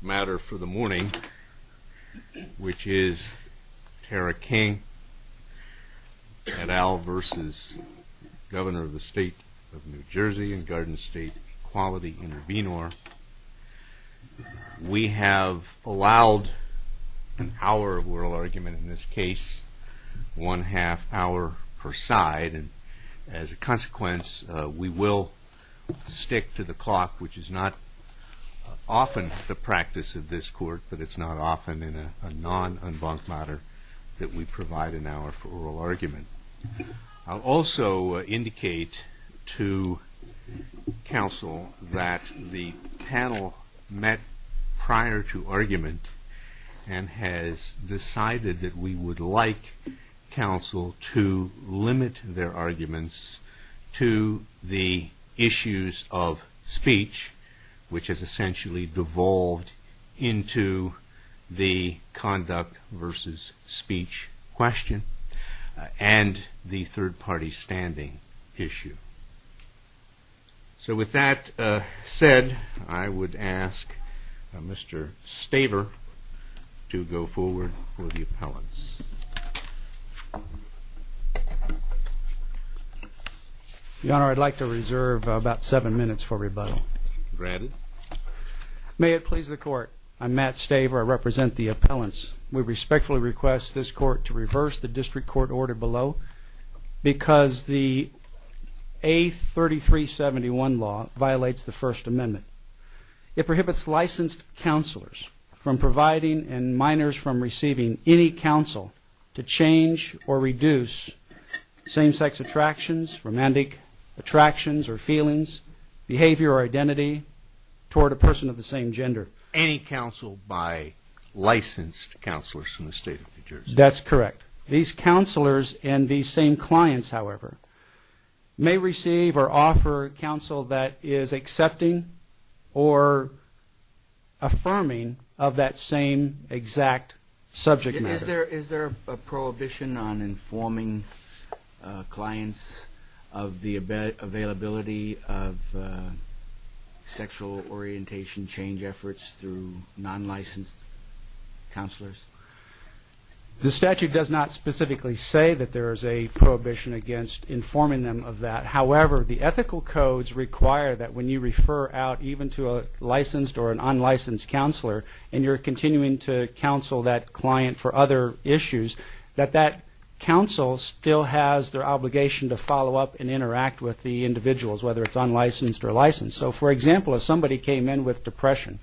matter for the morning, which is Tara King et al. v. Governor of the State of New Jersey and Garden State Equality Intervenor. We have allowed an hour of oral argument in this case, one half hour per side, and as a consequence we will stick to the clock, which is not often the practice of this court, but it's not often in a non-embankment matter that we provide an hour for oral argument. I'll also indicate to counsel that the panel met prior to argument and has decided that we would like counsel to limit their arguments to the issues of speech, which is essentially devolved into the conduct versus speech question, and the third-party standing issue. So with that said, I would ask Mr. Staber to go forward for the appellants. Your Honor, I'd like to reserve about seven minutes for rebuttal. Granted. May it please the court, I'm Matt Staber, I represent the appellants. We respectfully request this court to reverse the district court order below because the A3371 law violates the First Amendment. It prohibits from receiving any counsel to change or reduce same-sex attractions, romantic attractions or feelings, behavior or identity, toward a person of the same gender. Any counsel by licensed counselors from the state of New Jersey. That's correct. These counselors and these same clients, however, may receive or offer counsel that is accepting or affirming of that same exact subject matter. Is there a prohibition on informing clients of the availability of sexual orientation change efforts through non-licensed counselors? The statute does not specifically say that there is a prohibition against informing them of that. However, the ethical codes require that when you refer out even to a licensed or an unlicensed counselor and you're continuing to counsel that client for other issues, that that counsel still has their obligation to follow up and interact with the individuals, whether it's unlicensed or licensed. So for example, if somebody came in with depression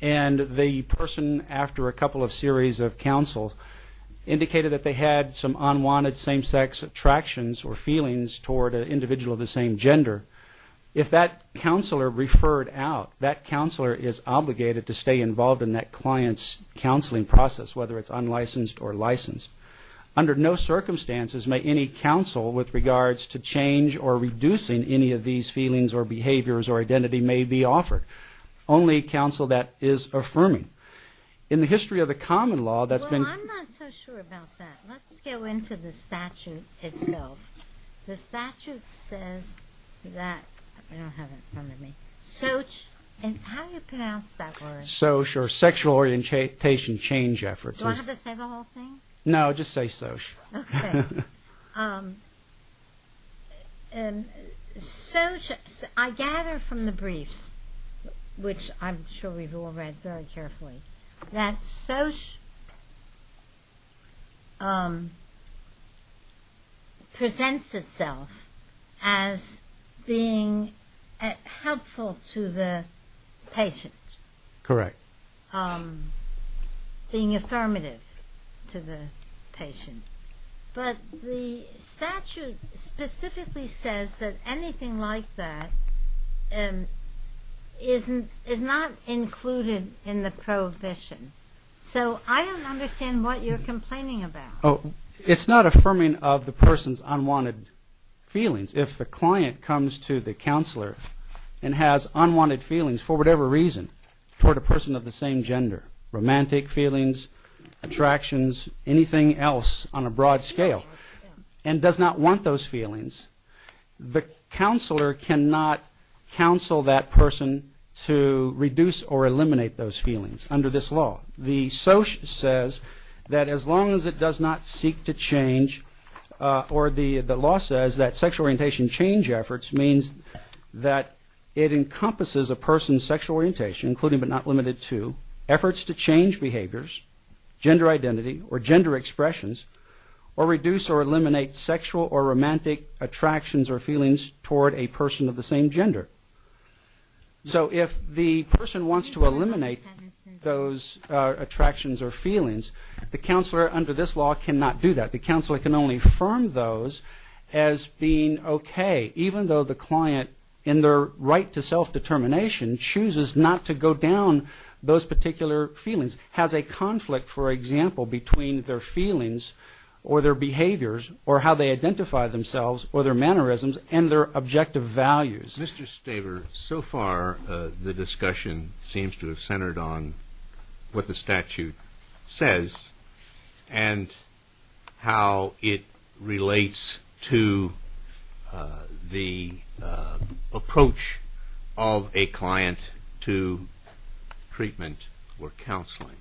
and the person, after a couple of series of counsel, indicated that they had some unwanted same-sex attractions or feelings toward an individual of the same gender, if that counselor referred out, that counselor is obligated to stay involved in that client's counseling process, whether it's unlicensed or licensed. Under no circumstances may any counsel with regards to change or reducing any of these feelings or behaviors or identity may be offered. Only counsel that is affirming. In the history of the common law, that's been... Let's go into the statute itself. The statute says that... I don't have it in front of me. Soch... How do you pronounce that word? Soch or sexual orientation change efforts. Do I have to say the whole thing? No, just say soch. Okay. Soch... I gather from the briefs, which I'm sure we've all read very often, that the statute presents itself as being helpful to the patient. Correct. Being affirmative to the patient. But the statute specifically says that anything like that is not included in the prohibition. So I don't understand what you're complaining about. It's not affirming of the person's unwanted feelings. If the client comes to the counselor and has unwanted feelings for whatever reason toward a person of the same gender, romantic feelings, attractions, anything else on a broad scale, and does not want those feelings, the counselor cannot counsel that person to reduce or eliminate those feelings under this law. The soch says that as long as it does not seek to change, or the law says that sexual orientation change efforts means that it encompasses a person's sexual orientation, including but not limited to efforts to change behaviors, gender identity, or gender expressions, or reduce or eliminate sexual or romantic attractions or feelings toward a person of the same gender. So if the person wants to eliminate those attractions or feelings, the counselor under this law cannot do that. The counselor can only affirm those as being okay, even though the client, in their right to self-determination, chooses not to go down those particular feelings, has a conflict, for example, between their feelings or their behaviors, or how they identify themselves, or their mannerisms, and their objective values. Mr. Staver, so far the discussion seems to have centered on what the statute says and how it relates to the approach of a client to treatment or counseling.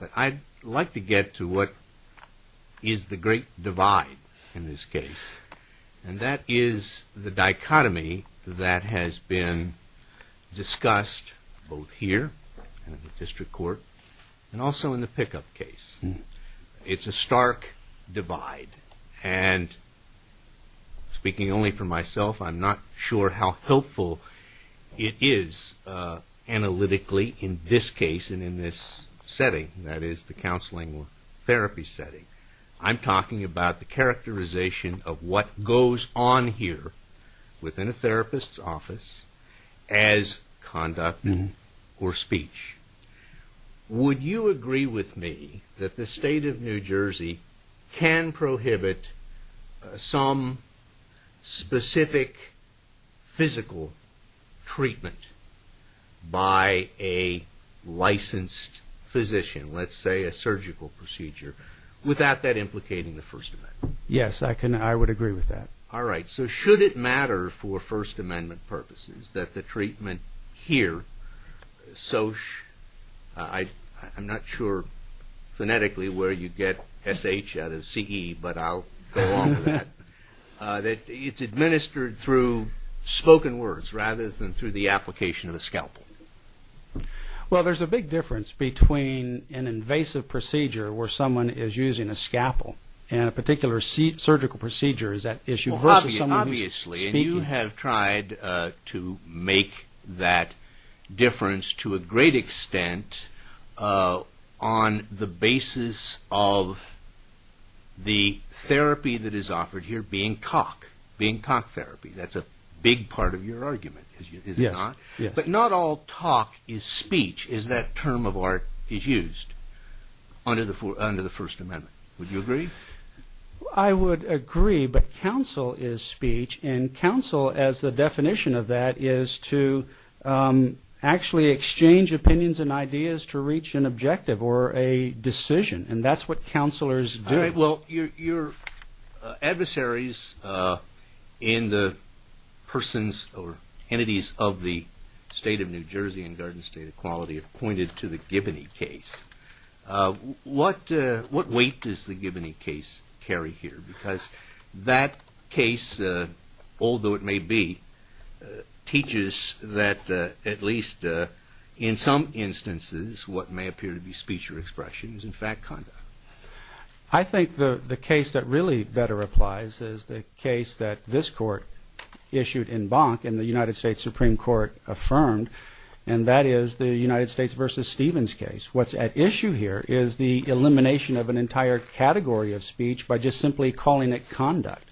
But I'd like to get to what is the great divide in this case, and that is the dichotomy that has been discussed both here in the district court and also in the pickup case. It's a stark divide, and speaking only for myself, I'm not sure how helpful it is analytically in this case and in this setting, that is the counseling therapy setting. I'm talking about the characterization of what goes on here within a therapist's office as conduct or speech. Would you agree with me that the state of New Jersey can prohibit some specific physical treatment by a licensed physician, let's say a surgical procedure, without that implicating the First Amendment? Yes, I would agree with that. All right. So should it matter for First Amendment purposes that the treatment here, I'm not sure phonetically where you get S-H out of C-E, but I'll go along with that, that it's administered through spoken words rather than through the application of a scalpel? Well, there's a big difference between an invasive procedure where someone is using a scalpel and a particular surgical procedure is that issue versus someone speaking. And you have tried to make that difference to a great extent on the basis of the therapy that is offered here being talk, being talk therapy. That's a big part of your argument, is it not? Yes. But not all talk is speech, is that term of art is used under the First Amendment. Would you agree? I would agree, but counsel is speech, and counsel as the definition of that is to actually exchange opinions and ideas to reach an objective or a decision, and that's what counselors do. All right. Well, your adversaries in the persons or entities of the State of New Jersey and Garden State Equality have pointed to the Giboney case. What weight does the Giboney case carry here? Because that case, although it may be, teaches that at least in some instances what may appear to be speech or expression is in fact conduct. I think the case that really better applies is the case that this Court issued in Bonk and the United States Supreme Court affirmed, and that is the United States versus Stevens case. What's at issue here is the elimination of an entire category of speech by just simply calling it conduct.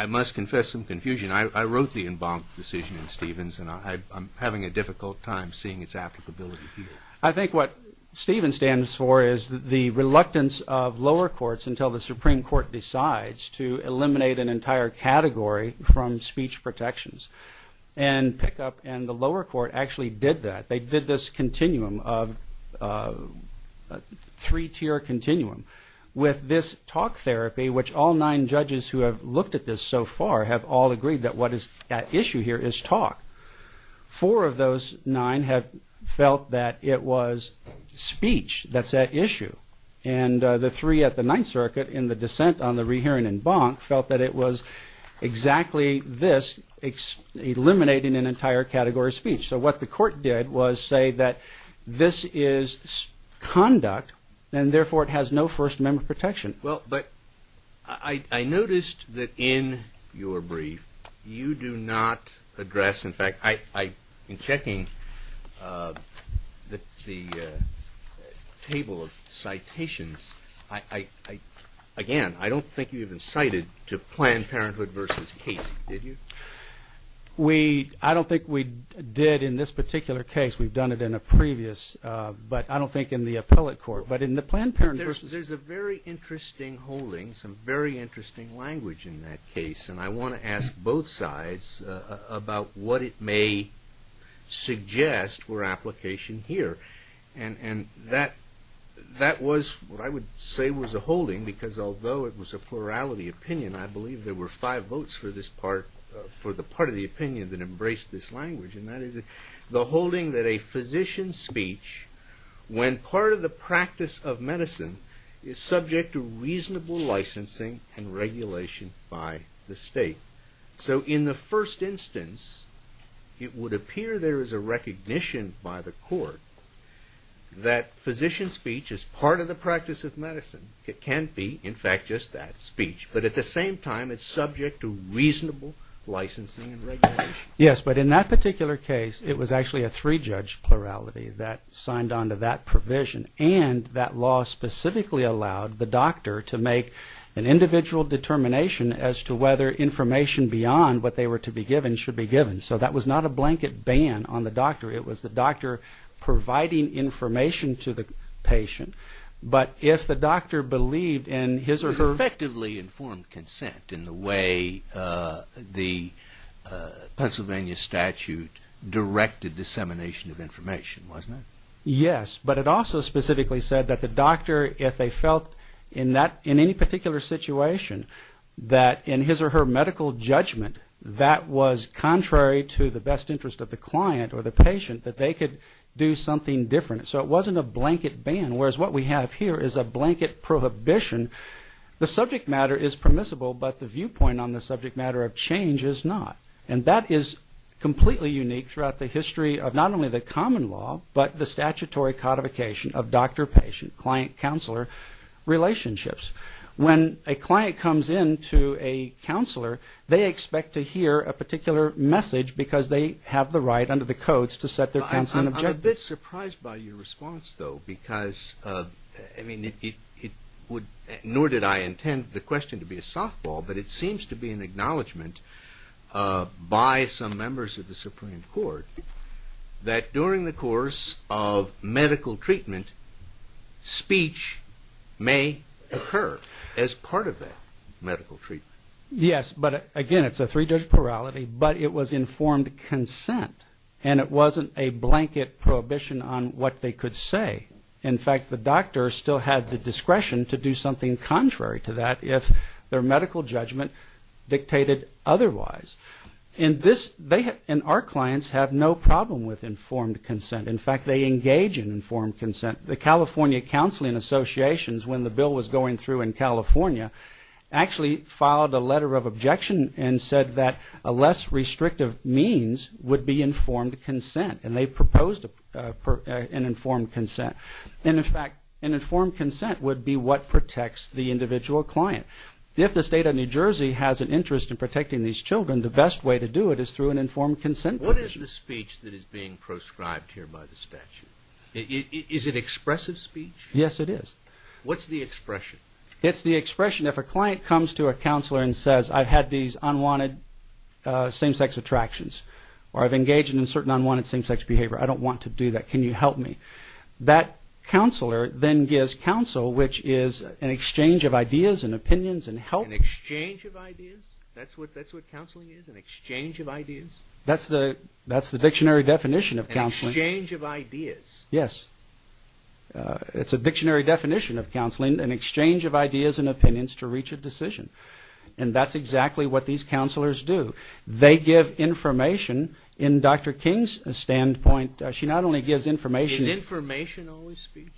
I must confess some confusion. I wrote the Bonk decision in Stevens, and I'm having a difficult time seeing its applicability here. I think what Stevens stands for is the reluctance of lower courts until the Supreme Court decides to eliminate an entire category from speech protections, and Pickup and the lower court actually did that. They did this continuum of three-tier continuum with this talk therapy, which all nine judges who have looked at this so far have all agreed that what is at issue here is talk. Four of those nine have felt that it was speech that's at issue, and the three at the Ninth Circuit in the dissent on the rehearing in Bonk felt that it was exactly this, eliminating an entire category of speech. So what the court did was say that this is conduct, and therefore it has no First Amendment protection. Well, but I noticed that in your brief, you do not address, in fact, in checking the table of citations, again, I don't think you even cited to Planned Parenthood versus Casey, did you? I don't think we did in this particular case. We've done it in a previous, but I don't think in the appellate court, but in the Planned Parenthood. There's a very interesting holding, some very interesting language in that case, and I want to ask both sides about what it may suggest for application here, and that was, what I would say was a holding, because although it was a plurality opinion, I believe there were five votes for this part, for the part of the opinion that a physician's speech, when part of the practice of medicine, is subject to reasonable licensing and regulation by the state. So in the first instance, it would appear there is a recognition by the court that physician speech is part of the practice of medicine. It can't be, in fact, just that, speech, but at the same time, it's subject to reasonable licensing and regulation. Yes, but in that particular case, it was actually a three-judge plurality that signed on to that provision, and that law specifically allowed the doctor to make an individual determination as to whether information beyond what they were to be given should be given. So that was not a blanket ban on the doctor. It was the doctor providing information to the patient, but if the doctor believed in his or her... It effectively informed consent in the way the Pennsylvania statute directed dissemination of information, wasn't it? Yes, but it also specifically said that the doctor, if they felt in any particular situation that in his or her medical judgment, that was contrary to the best interest of the client or the patient, that they could do something different. So it is a blanket prohibition. The subject matter is permissible, but the viewpoint on the subject matter of change is not, and that is completely unique throughout the history of not only the common law, but the statutory codification of doctor-patient, client-counselor relationships. When a client comes in to a counselor, they expect to hear a particular message because they have the right under the codes to set their consent objectives. I'm a bit surprised by your response, though, because, I mean, it would... Nor did I intend the question to be a softball, but it seems to be an acknowledgement by some members of the Supreme Court that during the course of medical treatment, speech may occur as part of that medical treatment. Yes, but again, it's a three-judge plurality, but it was informed consent, and it wasn't a blanket prohibition on what they could say. In fact, the doctor still had the discretion to do something contrary to that if their medical judgment dictated otherwise. And this... They and our clients have no problem with informed consent. In fact, they engage in informed consent. The California Counseling Associations, when the bill was going through in California, actually filed a letter of objection and said that a less restrictive means would be informed consent, and they proposed an informed consent. And in fact, an informed consent would be what protects the individual client. If the state of New Jersey has an interest in protecting these children, the best way to do it is through an informed consent provision. What is the speech that is being proscribed here by the statute? Is it expressive speech? Yes, it is. What's the expression? It's the expression if a client comes to a counselor and says, I've had these unwanted same-sex attractions, or I've engaged in certain unwanted same-sex behavior. I don't want to do that. Can you help me? That counselor then gives counsel, which is an exchange of ideas and opinions and help. An exchange of ideas? That's what counseling is? An exchange of ideas? That's the dictionary definition of counseling. An exchange of ideas? Yes. It's a dictionary definition of counseling, an exchange of ideas and what these counselors do. They give information. In Dr. King's standpoint, she not only gives information. Is information always speech?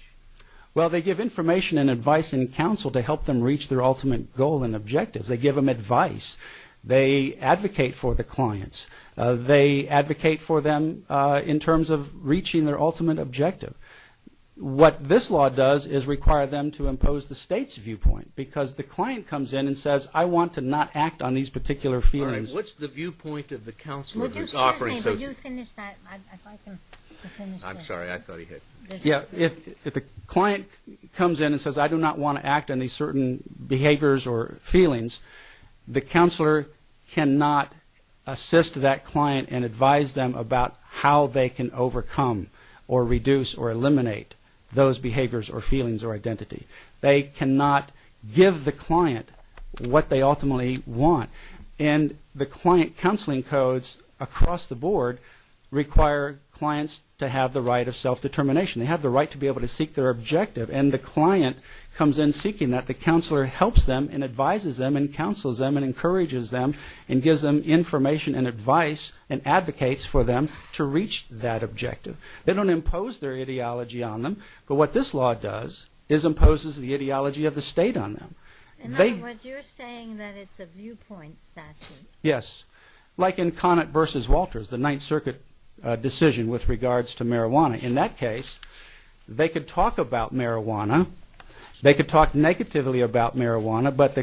Well, they give information and advice and counsel to help them reach their ultimate goal and objectives. They give them advice. They advocate for the clients. They advocate for them in terms of reaching their ultimate objective. What this law does is require them to impose the state's viewpoint, because the client comes in and says, I want to not act on these particular feelings. What's the viewpoint of the counselor? If the client comes in and says, I do not want to act on these certain behaviors or feelings, the counselor cannot assist that client and advise them about how they can overcome or reduce or eliminate those behaviors or feelings or identity. They cannot give the client what they ultimately want. And the client counseling codes across the board require clients to have the right of self-determination. They have the right to be able to seek their objective and the client comes in seeking that. The counselor helps them and advises them and counsels them and encourages them and gives them information and advice and advocates for them to reach that objective. But what this law does is imposes the ideology of the state on them. In other words, you're saying that it's a viewpoint statute. Yes. Like in Conant v. Walters, the Ninth Circuit decision with regards to marijuana. In that case, they could talk about marijuana. They could talk negatively about marijuana, but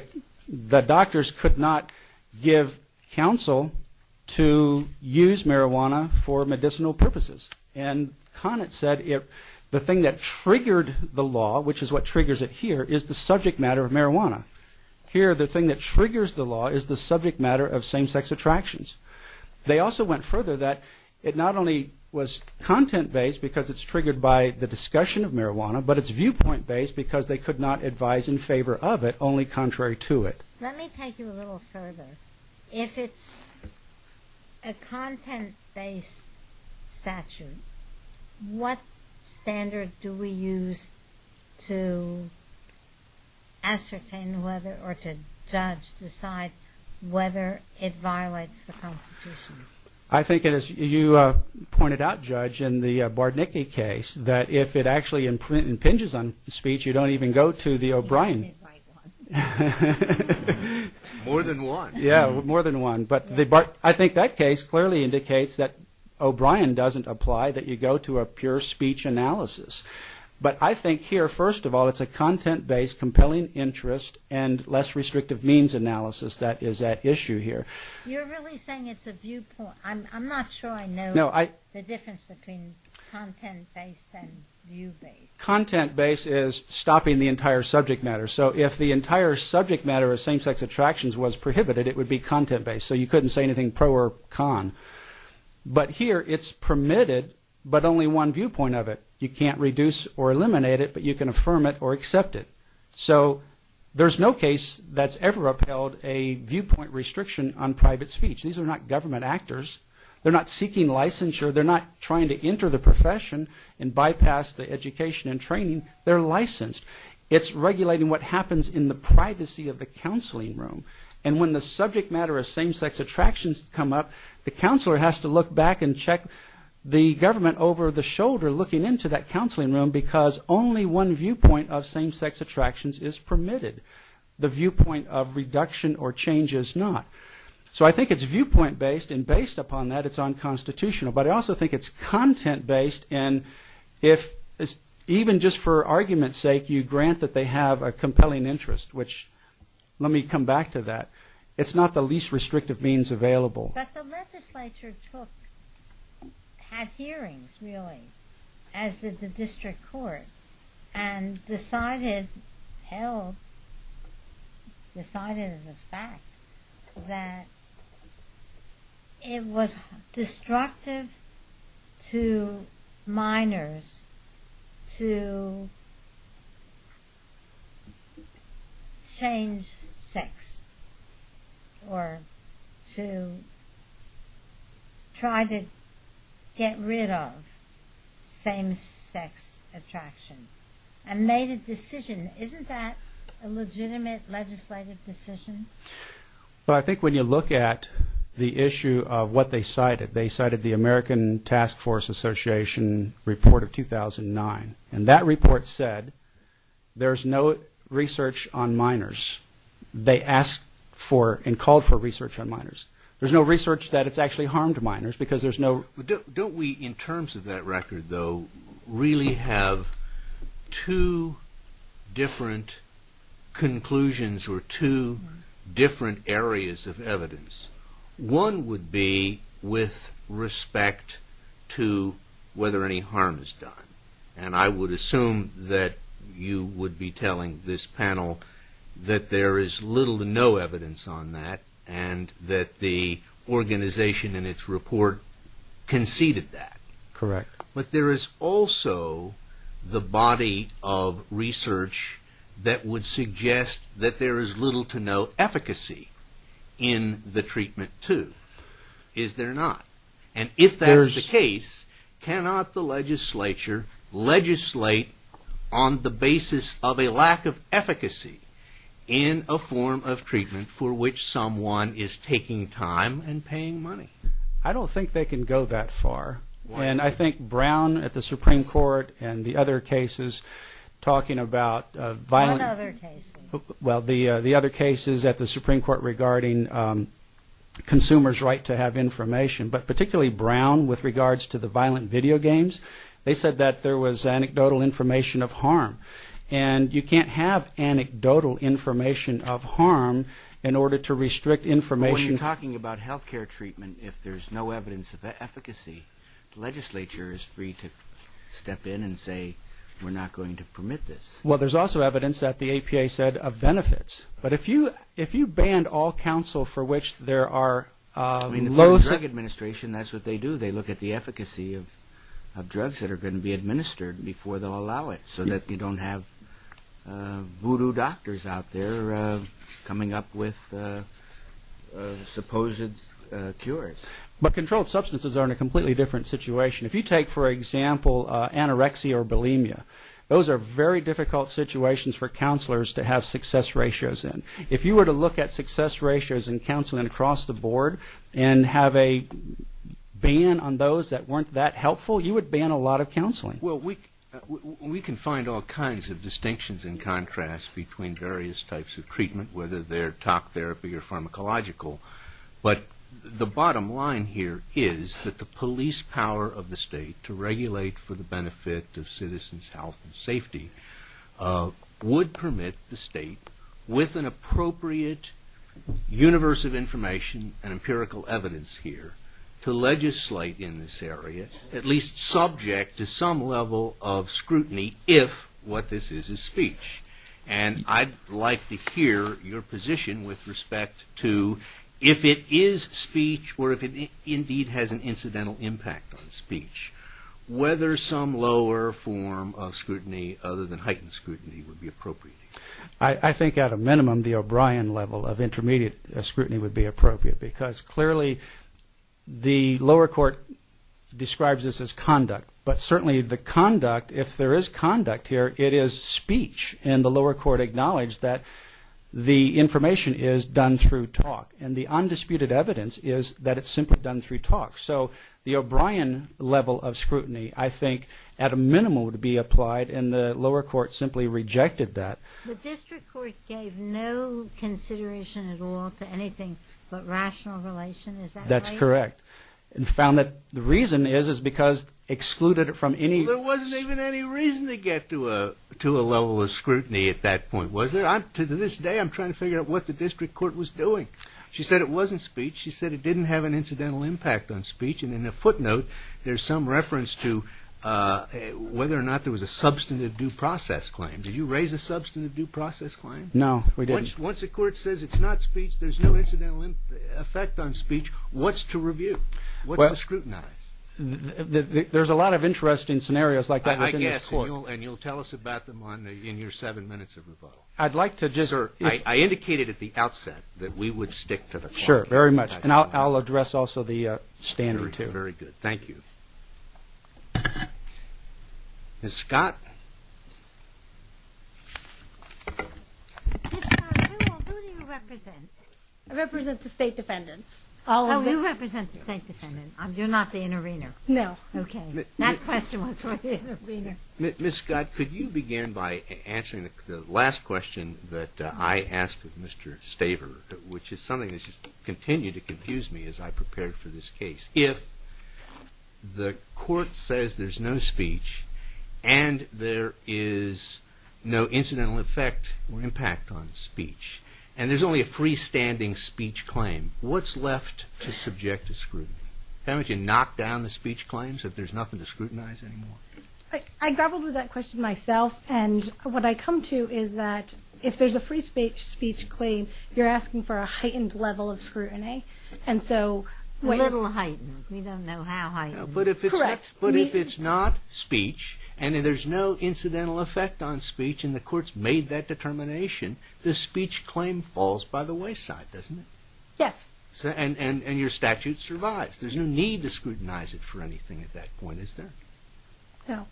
the doctors could not give counsel to use the law, which is what triggers it here, is the subject matter of marijuana. Here, the thing that triggers the law is the subject matter of same-sex attractions. They also went further that it not only was content-based because it's triggered by the discussion of marijuana, but it's viewpoint- based because they could not advise in favor of it, only contrary to it. Let me take you a little further. If it's a content-based statute, what standard do we use to ascertain whether or to judge, decide whether it violates the Constitution? I think, as you pointed out, Judge, in the Bardnicki case, that if it actually impinges on speech, you don't even go to the O'Brien. You can't invite one. More than one. Yeah, more than one. But I think that case clearly indicates that O'Brien doesn't apply, that you go to a pure speech analysis. But I think here, first of all, it's a content-based, compelling interest and less restrictive means analysis that is at issue here. You're really saying it's a viewpoint. I'm not sure I know the difference between content-based and view-based. Content-based is stopping the entire subject matter. So if the entire subject matter of same-sex attractions was prohibited, it would be content-based. So you couldn't say anything pro or con. But here, it's permitted, but only one viewpoint of it. You can't reduce or eliminate it, but you can affirm it or accept it. So there's no case that's ever upheld a viewpoint restriction on private speech. These are not government actors. They're not seeking licensure. They're not trying to enter the profession and bypass the education and training. They're licensed. It's regulating what happens in the privacy of the counseling room. And when the subject matter of same-sex attractions come up, the counselor has to look back and check the government over the shoulder looking into that counseling room because only one viewpoint of same-sex attractions is permitted. The viewpoint of reduction or change is not. So I think it's viewpoint-based, and based upon that, it's unconstitutional. But I also think it's content-based. And even just for argument's sake, you grant that they have a compelling interest, which, let me come back to that, it's not the least restrictive means available. But the legislature took, had hearings, really, as did the district court, and decided, held, decided as a fact, that it was destructive to minors to change sex or to try to get rid of same-sex attraction, and made a decision. Isn't that a legitimate legislative decision? Well, I think when you look at the issue of what they cited, they cited the American Task Force Association report of 2009, and that report said there's no research on minors. They asked for and called for research on minors. There's no research that it's actually harmed minors because there's no... But don't we, in terms of that record, though, One would be with respect to whether any harm is done. And I would assume that you would be telling this panel that there is little to no evidence on that, and that the organization in its report conceded that. Correct. But there is also the body of research that would suggest that there is little to no efficacy in the treatment, too. Is there not? And if that's the case, cannot the legislature legislate on the basis of a lack of efficacy in a form of treatment for which someone is taking time and paying money? I don't think they can go that far. And I think Brown at the Supreme Court and the other cases talking about violent... What other cases? Well, the other cases at the Supreme Court regarding consumers' right to have information, but particularly Brown with regards to the violent video games, they said that there was anecdotal information of harm. And you can't have anecdotal information of harm in order to restrict information... When you're talking about health care treatment, if there's no evidence of efficacy, the legislature is free to step in and say, we're not going to permit this. Well, there's also evidence that the APA said of benefits. But if you ban all counsel for which there are low... I mean, the Federal Drug Administration, that's what they do. They look at the efficacy of drugs that are going to be administered before they'll allow it, so that you don't have voodoo doctors out there coming up with supposed cures. But controlled substances are in a completely different situation. If you take, for example, anorexia or bulimia, those are very difficult situations for counselors to have success ratios in. If you were to look at success ratios in counseling across the board and have a ban on those that weren't that helpful, you would ban a lot of counseling. Well, we can find all kinds of distinctions and contrasts between various types of treatment, whether they're top therapy or pharmacological. But the bottom line here is that the police power of the state to regulate for the benefit of citizens' health and safety would permit the state, with an appropriate universe of information and empirical evidence here, to legislate in this area, at least subject to some level of scrutiny, if what this is is speech. And I'd like to hear your position with respect to if it is speech or if it indeed has an incidental impact on speech, whether some lower form of scrutiny, other than heightened scrutiny, would be appropriate. I think at a minimum, the O'Brien level of intermediate scrutiny would be appropriate, because clearly the lower court describes this as conduct. But certainly the conduct, if there is conduct here, it is speech. And the lower court acknowledged that the information is done through talk. And the undisputed evidence is that it's simply done through talk. So the O'Brien level of scrutiny, I think, at a minimum would be applied, and the lower court simply rejected that. The district court gave no consideration at all to anything but rational relation. Is that right? That's correct. And found that the reason is, is because excluded it from any... Well, there wasn't even any reason to get to a level of scrutiny at that point, was there? To this day, I'm trying to figure out what the district court was doing. She said it wasn't speech. She said it didn't have an incidental impact on speech. And in the footnote, there's some reference to whether or not there was a substantive due process claim. Did you raise a substantive due process claim? No, we didn't. Once the court says it's not speech, there's no incidental effect on speech, what's to review? What's to scrutinize? There's a lot of interesting scenarios like that within this court. I guess, and you'll tell us about them in your seven minutes of rebuttal. I'd like to just... Sir, I indicated at the outset that we would stick to the... Sure, very much. And I'll address also the standard, too. Very good. Thank you. Ms. Scott? Ms. Scott, who do you represent? I represent the state defendants. Oh, you represent the state defendants. You're not the intervener. No. Okay. That question was for the intervener. Ms. Scott, could you begin by answering the last question that I asked of Mr. Staver, which is something that just continued to confuse me as I prepared for this case. If the court says there's no speech and there is no incidental effect or impact on speech and there's only a freestanding speech claim, what's left to subject to scrutiny? Why don't you knock down the speech claims if there's nothing to scrutinize anymore? I grappled with that question myself and what I come to is that if there's a free speech claim, you're asking for a heightened level of scrutiny. And so... A little heightened. We don't know how heightened. Correct. But if it's not speech and there's no incidental effect on speech and the court's made that determination, the speech claim falls by the wayside, doesn't it? Yes. And your statute survives. There's no need to scrutinize it for anything at that point, is there? No.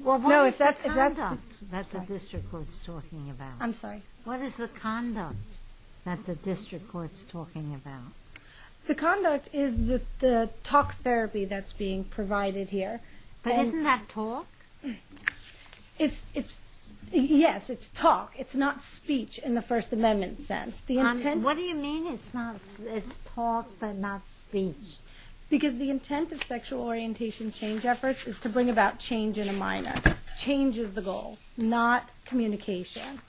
Well, what is the conduct that the district court's talking about? I'm sorry? What is the conduct that the district court's talking about? The conduct is the talk therapy that's being provided here. But isn't that talk? It's... Yes, it's talk. It's not speech in the First Amendment sense. What do you mean it's not... It's talk but not speech? Because the intent of sexual orientation change efforts is to bring about change in a minor. Change is the goal, not communication.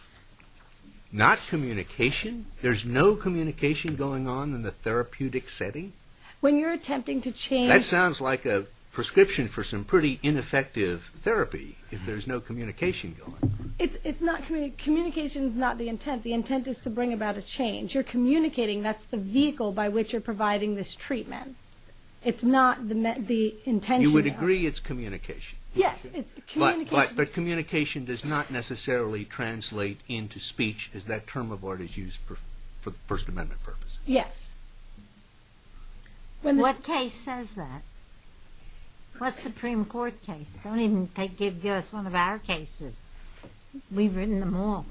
Not communication? There's no communication going on in the therapeutic setting? When you're attempting to change... That sounds like a prescription for some pretty ineffective therapy if there's no communication going on. It's not... Communication's not the intent. The intent is to bring about a change. You're communicating. That's the vehicle by which you're providing this treatment. It's not the intention. You would agree it's communication? Yes, it's communication. But communication does not necessarily translate into speech as that term of art is used for First Amendment purposes? Yes. What case says that? What Supreme Court case? Don't even give us one of our cases. We've written them all.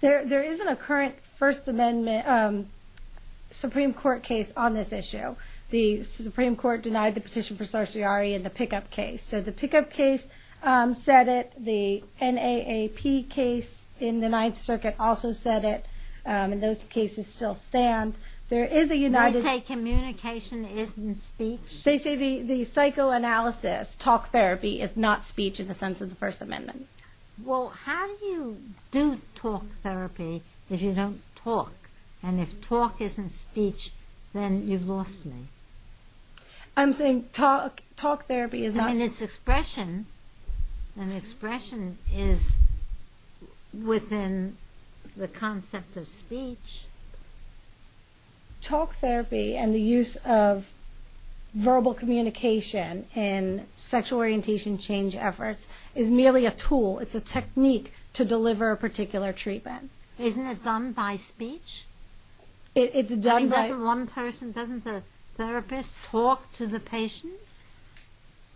There isn't a current First Amendment Supreme Court case on this issue. The Supreme Court denied the petition for certiorari in the pickup case. The pickup case said it. The NAAP case in the Ninth Circuit also said it. Those cases still stand. There is a united... They say communication isn't speech? They say the psychoanalysis, talk therapy, is not speech in the sense of the First Amendment. How do you do talk therapy if you don't talk? And if talk isn't speech, then you've lost me. I'm saying talk therapy is not... I mean, it's expression. And expression is within the concept of speech. Talk therapy and the use of verbal communication in sexual orientation change efforts is merely a tool. It's a technique to deliver a particular treatment. Isn't it done by speech? It's done by... Doesn't the therapist talk to the patient?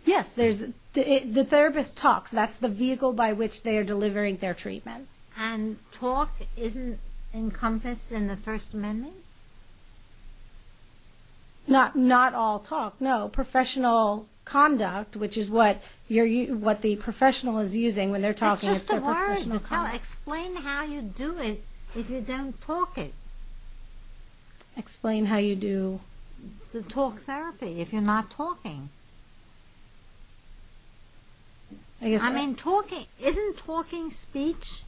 Yes. The therapist talks. That's the vehicle by which they are delivering their treatment. And talk isn't encompassed in the First Amendment? Not all talk, no. Professional conduct, which is what the professional is using when they're talking. Explain how you do it if you don't talk it. Explain how you do... Talk therapy if you're not talking. I mean, talking... Isn't talking speech?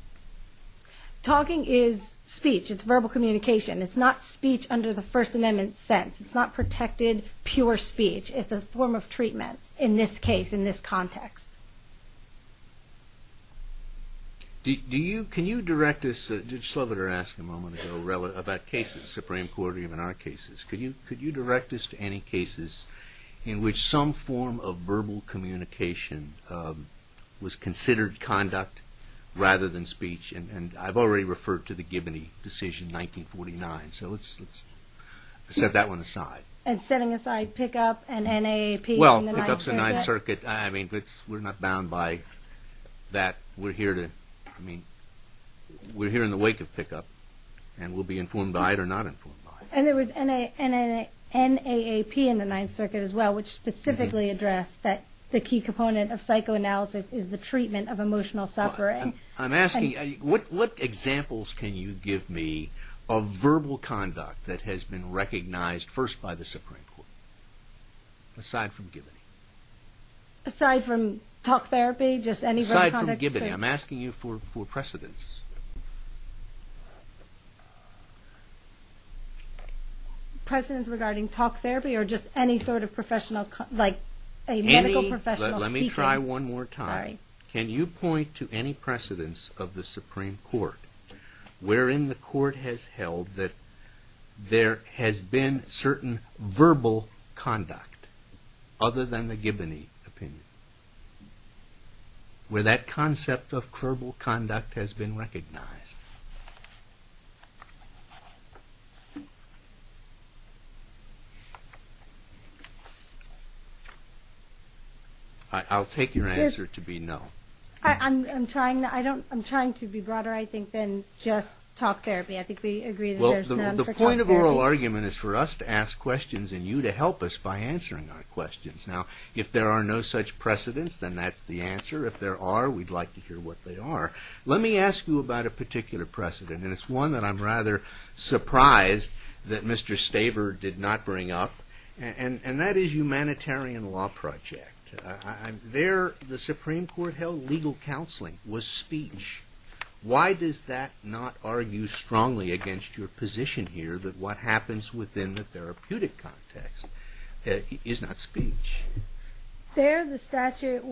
Talking is speech. It's verbal communication. It's not speech under the First Amendment sense. It's not protected, pure speech. It's a form of treatment in this case, in this context. Can you direct us... Judge Sloboda asked a moment ago about cases, Supreme Court, even our cases. Could you direct us to any cases in which some form of verbal communication was considered conduct rather than speech? And I've already referred to the Gibney decision, 1949. So let's set that one aside. And setting aside pick-up and NAAP in the Ninth Circuit? Well, pick-up's in the Ninth Circuit. We're not bound by that. We're here in the wake of pick-up. And we'll be informed by it or not informed by it. And there was NAAP in the Ninth Circuit as well, which specifically addressed that the key component of psychoanalysis is the treatment of emotional suffering. I'm asking, what examples can you give me of verbal conduct that has been recognized first by the Supreme Court? Aside from Gibney. Aside from talk therapy? Aside from Gibney. I'm asking you for precedence. Precedence regarding talk therapy or just any sort of professional, like a medical professional speaking? Let me try one more time. Can you point to any precedence of the Supreme Court wherein the Court has held that there has been certain verbal conduct other than the Gibney opinion? Where that concept of verbal conduct has been recognized? I'll take your answer to be no. I'm trying to be broader, I think, than just talk therapy. The point of oral argument is for us to ask questions and you to help us by answering our questions. Now, if there are no such precedence, then that's the answer. If there are, we'd like to hear what they are. Let me ask you about a particular precedent, and it's one that I'm rather surprised that Mr. Staver did not bring up. And that is humanitarian law project. There, the Supreme Court held legal counseling was speech. Why does that not argue strongly against your position here that what happens within the therapeutic context is not speech? There, the statute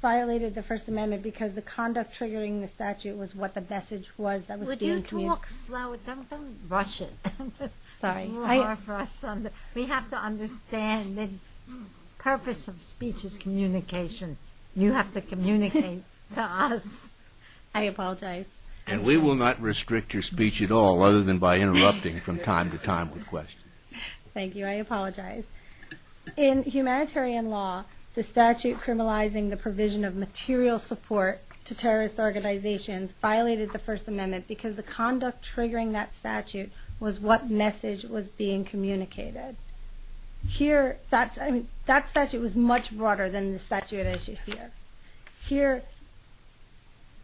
violated the First Amendment because the conduct triggering the statute was what the message was that was being communicated. Don't rush it. We have to understand the purpose of speech is communication. You have to communicate to us. I apologize. And we will not restrict your speech at all other than by interrupting from time to time with questions. Thank you. I apologize. In humanitarian law, the statute criminalizing the provision of material support to terrorist organizations violated the First Amendment because the conduct triggering that statute was what message was being communicated. Here, that statute was much broader than the statute here.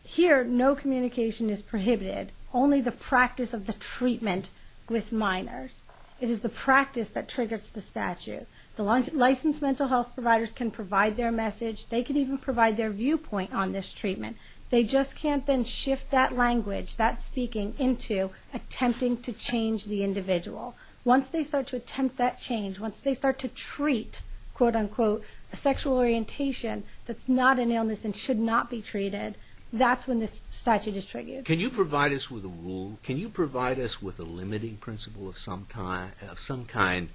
Here, no communication is prohibited. Only the practice of the treatment with minors. It is the practice that triggers the statute. Licensed mental health providers can provide their message. They can even provide their viewpoint on this treatment. They just can't then shift that language, that speaking, into attempting to change the individual. Once they start to attempt that change, once they start to treat a sexual orientation that's not an illness and should not be treated, that's when this statute is triggered. Can you provide us with a rule? Can you provide us with a limiting principle of some kind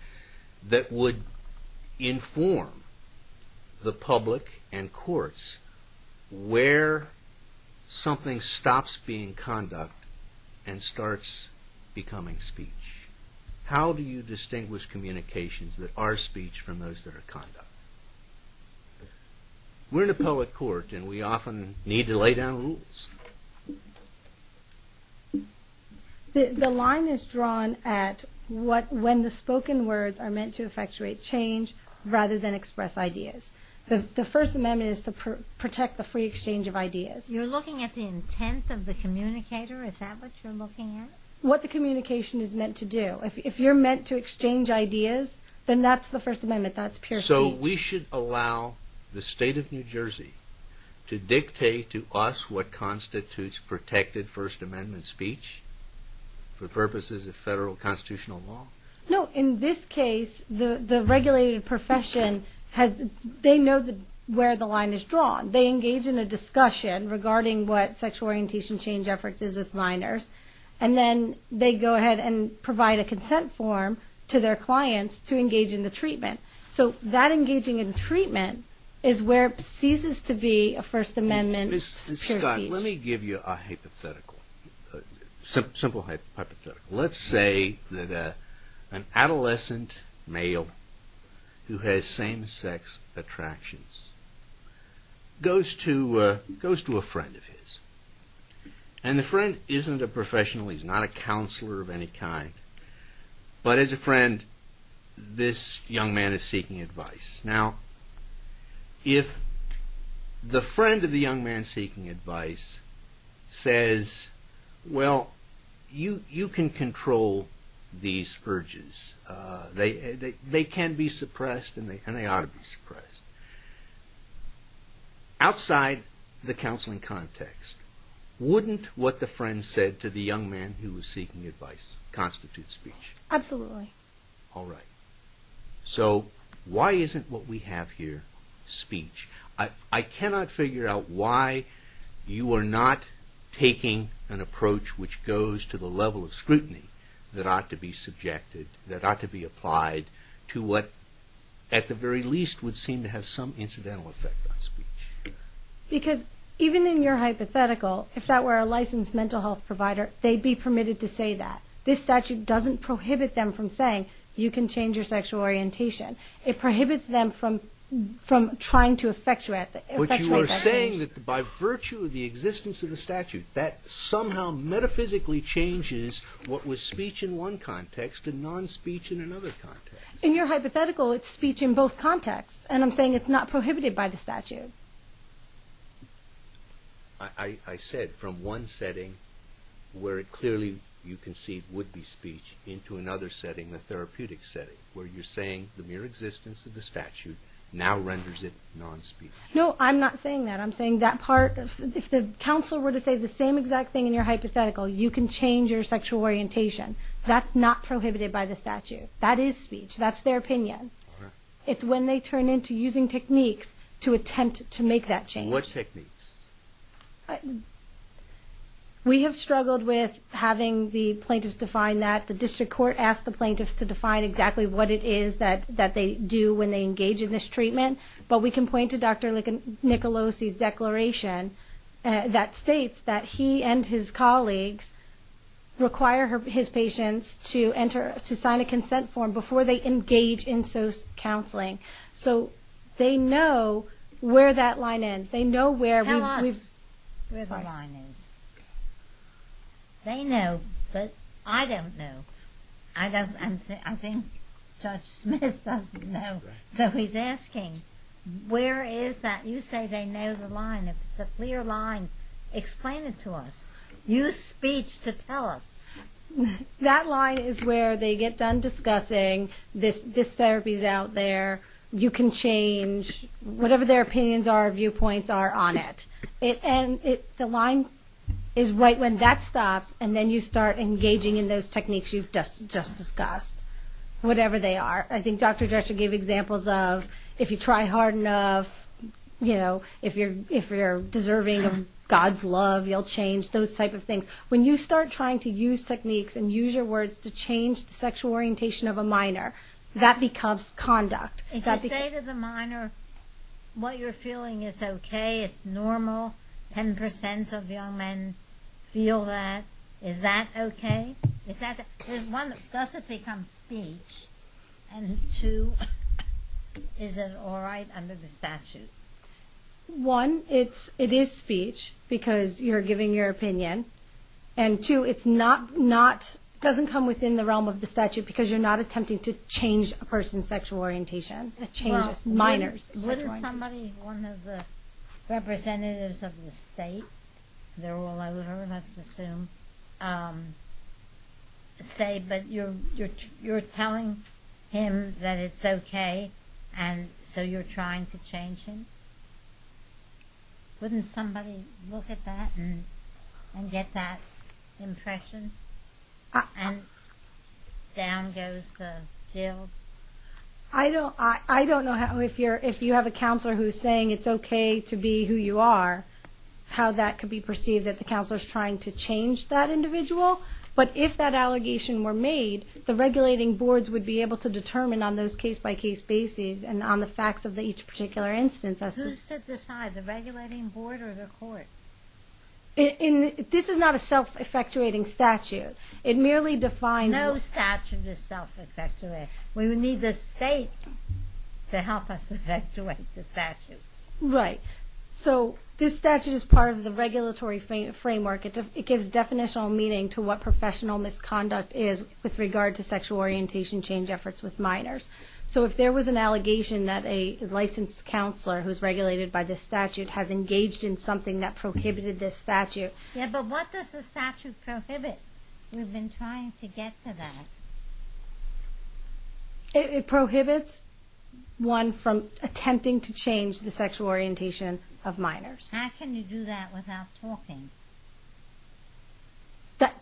that would inform the public and courts where something stops being conduct and starts becoming speech? How do you distinguish communications that are speech from those that are conduct? We're in a public court and we often need to lay down rules. The line is drawn at what when the spoken words are meant to effectuate change rather than express ideas. The first amendment is to protect the free exchange of ideas. You're looking at the intent of the communicator? Is that what you're looking at? What the communication is meant to do. If you're meant to exchange ideas then that's the first amendment, that's pure speech. So we should allow the state of New Jersey to dictate to us what constitutes protected first amendment speech for purposes of federal constitutional law? No, in this case the regulated profession they know where the line is drawn. They engage in a discussion regarding what sexual orientation change efforts is with minors and then they go ahead and provide a consent form to their clients to engage in the treatment. So that engaging in treatment is where it ceases to be a first amendment pure speech. Scott, let me give you a hypothetical. Simple hypothetical. Let's say that an adolescent male who has same sex attractions goes to a friend and the friend isn't a professional, he's not a counselor of any kind but as a friend this young man is seeking advice. Now, if the friend of the young man seeking advice says, well you can control these urges they can be suppressed and they ought to be suppressed. Outside the counseling context wouldn't what the friend said to the young man who was seeking advice constitute speech? Absolutely. Alright. So why isn't what we have here speech? I cannot figure out why you are not taking an approach which goes to the level of scrutiny that ought to be subjected, that ought to be applied to what at the very least would seem to have some incidental speech. Because even in your hypothetical, if that were a licensed mental health provider, they'd be permitted to say that. This statute doesn't prohibit them from saying, you can change your sexual orientation. It prohibits them from trying to effectuate that. But you are saying that by virtue of the existence of the statute, that somehow metaphysically changes what was speech in one context and non- speech in another context. In your hypothetical it's speech in both contexts and I'm saying it's not prohibited by the statute. I said from one setting where it clearly you concede would be speech into another setting, the therapeutic setting where you're saying the mere existence of the statute now renders it non-speech. No, I'm not saying that. I'm saying that part, if the counsel were to say the same exact thing in your hypothetical you can change your sexual orientation. That's not prohibited by the statute. That is speech. That's their opinion. It's when they turn into using techniques to attempt to make that change. What techniques? We have struggled with having the plaintiffs define that. The district court asked the plaintiffs to define exactly what it is that they do when they engage in this treatment. But we can point to Dr. Nicolosi's declaration that states that he and his colleagues require his patients to sign a consent form before they engage in social counseling. They know where that line ends. Tell us where the line is. They know but I don't know. I think Judge Smith doesn't know. So he's asking where is that? You say they know the line. If it's a clear line explain it to us. Use speech to tell us. That line is where they get done discussing this therapy is out there. You can change whatever their opinions are, viewpoints are on it. The line is right when that stops and then you start engaging in those techniques you've just discussed. Whatever they are. I think Dr. Drescher gave examples of if you try hard enough if you're deserving of God's love you'll change. Those type of techniques to change the sexual orientation of a minor that becomes conduct. If I say to the minor what you're feeling is ok it's normal 10% of young men feel that is that ok? Does it become speech? And two is it alright under the statute? One, it is speech because you're giving your opinion and two it doesn't come within the realm of the statute because you're not attempting to change a person's sexual orientation it changes minors sexual orientation. Wouldn't somebody, one of the representatives of the state they're all over let's assume say but you're telling him that it's ok and so you're trying to change him? Wouldn't somebody look at that and get that impression and down goes the jail? I don't know if you have a counselor who's saying it's ok to be who you are how that could be perceived that the counselor is trying to change that individual but if that allegation were made the regulating boards would be able to determine on those case by case basis and on the facts of each particular instance. Who should decide the regulating board or the court? This is not a self-effectuating statute it merely defines No statute is self-effectuating we would need the state to help us effectuate the statutes. So this statute is part of the regulatory framework it gives definitional meaning to what professional misconduct is with regard to sexual orientation change efforts with minors so if there was an allegation that a licensed counselor who is regulated by this statute has engaged in something that prohibited this statute Yeah but what does the statute prohibit? We've been trying to get to that It prohibits one from attempting to change the sexual orientation of minors How can you do that without talking?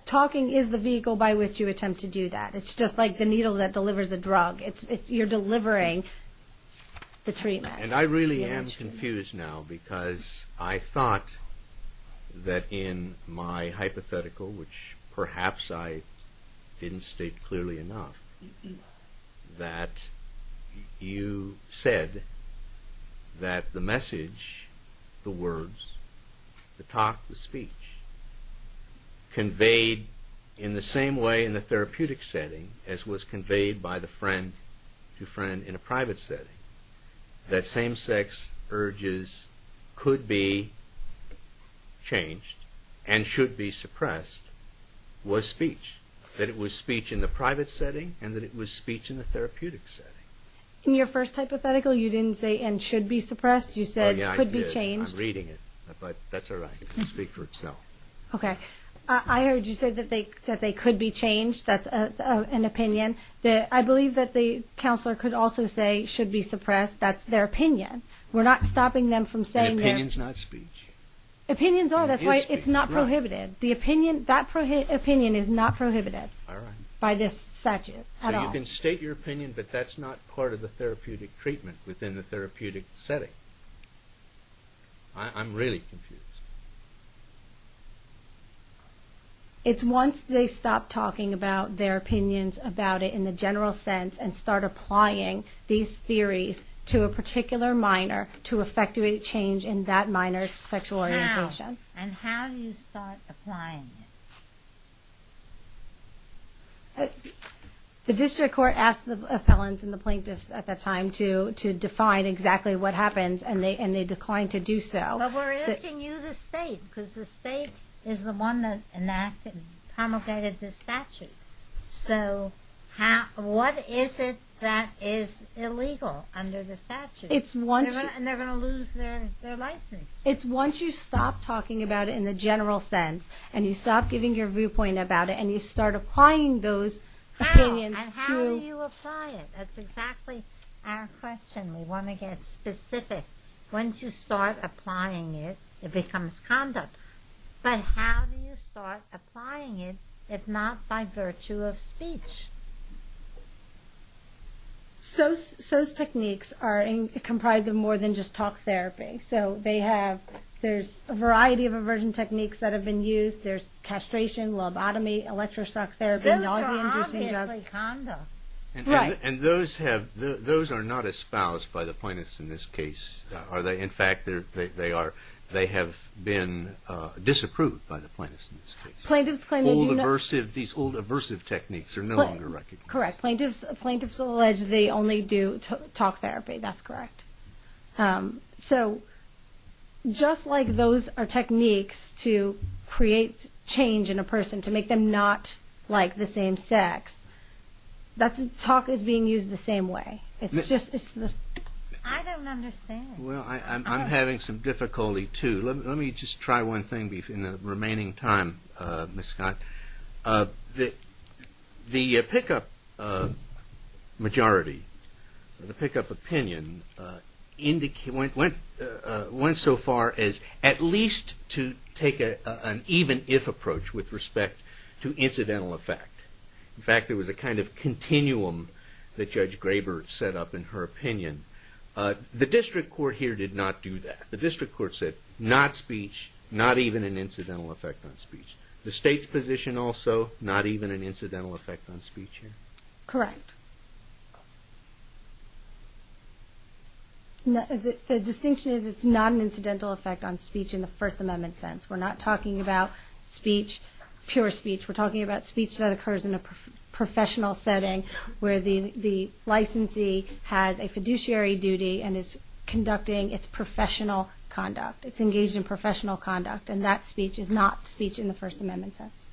Talking is the vehicle by which you attempt to do that it's just like the needle that delivers a drug you're delivering the treatment And I really am confused now because I thought that in my hypothetical which perhaps I didn't state clearly enough that you said that the message the words the talk, the speech conveyed in the same way in the therapeutic setting as was conveyed by the friend to friend in a private setting that same sex urges could be changed and should be suppressed was speech that it was speech in the private setting and that it was speech in the therapeutic setting In your first hypothetical you didn't say and should be suppressed you said could be changed I'm reading it but that's alright I heard you say that that they could be changed that's an opinion I believe that the counselor could also say should be suppressed, that's their opinion we're not stopping them from saying The opinion's not speech Opinions are, that's why it's not prohibited That opinion is not prohibited by this statute So you can state your opinion but that's not part of the therapeutic treatment within the therapeutic setting I'm really confused It's once they stop talking about their opinions about it in the general sense and start applying these theories to a particular minor to effectuate change in that minor's sexual orientation And how do you start applying it? The district court asked the appellants and the plaintiffs at that time to define exactly what happens and they declined But we're asking you the state because the state is the one that enacted and promulgated this statute so what is it that is illegal under the statute and they're going to lose their license It's once you stop talking about it in the general sense and you stop giving your viewpoint about it and you start applying those opinions How do you apply it? That's exactly our question We want to get specific Once you start applying it it becomes conduct But how do you start applying it if not by virtue of speech? Those techniques are comprised of more than just talk therapy There's a variety of aversion techniques that have been used There's castration, lobotomy, electrostatic therapy Those are obviously conduct Right And those are not espoused by the plaintiffs in this case In fact they have been disapproved by the plaintiffs These old aversive techniques are no longer recognized Correct. Plaintiffs allege they only do talk therapy. That's correct So just like those are techniques to create change in a person to make them not like the same sex Talk is being used the same way I don't understand I'm having some difficulty too. Let me just try one thing in the remaining time Ms. Scott The pickup majority the pickup opinion went so far as at least to take an even if approach with respect to there was a kind of continuum that Judge Graber set up in her opinion The district court here did not do that The district court said not speech not even an incidental effect on speech The state's position also not even an incidental effect on speech Correct The distinction is it's not an incidental effect on speech in the First Amendment sense We're not talking about speech Pure speech. We're talking about speech that occurs in a professional setting where the licensee has a fiduciary duty and is conducting its professional conduct. It's engaged in professional conduct and that speech is not speech in the First Amendment sense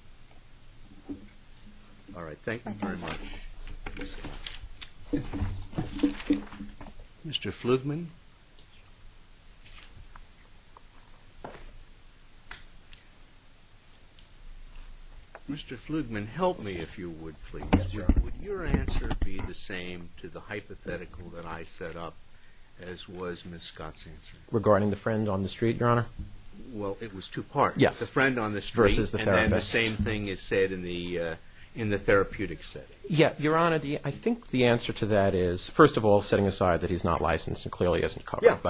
Alright. Thank you very much Mr. Flugman Mr. Flugman, help me if you would, please Would your answer be the same to the hypothetical that I set up as was Ms. Scott's answer? Regarding the friend on the street, Your Honor? Well, it was two parts. The friend on the street versus the therapist And then the same thing is said in the therapeutic setting Yeah, Your Honor, I think the answer to that is, first of all, setting aside that he's not licensed and clearly isn't covered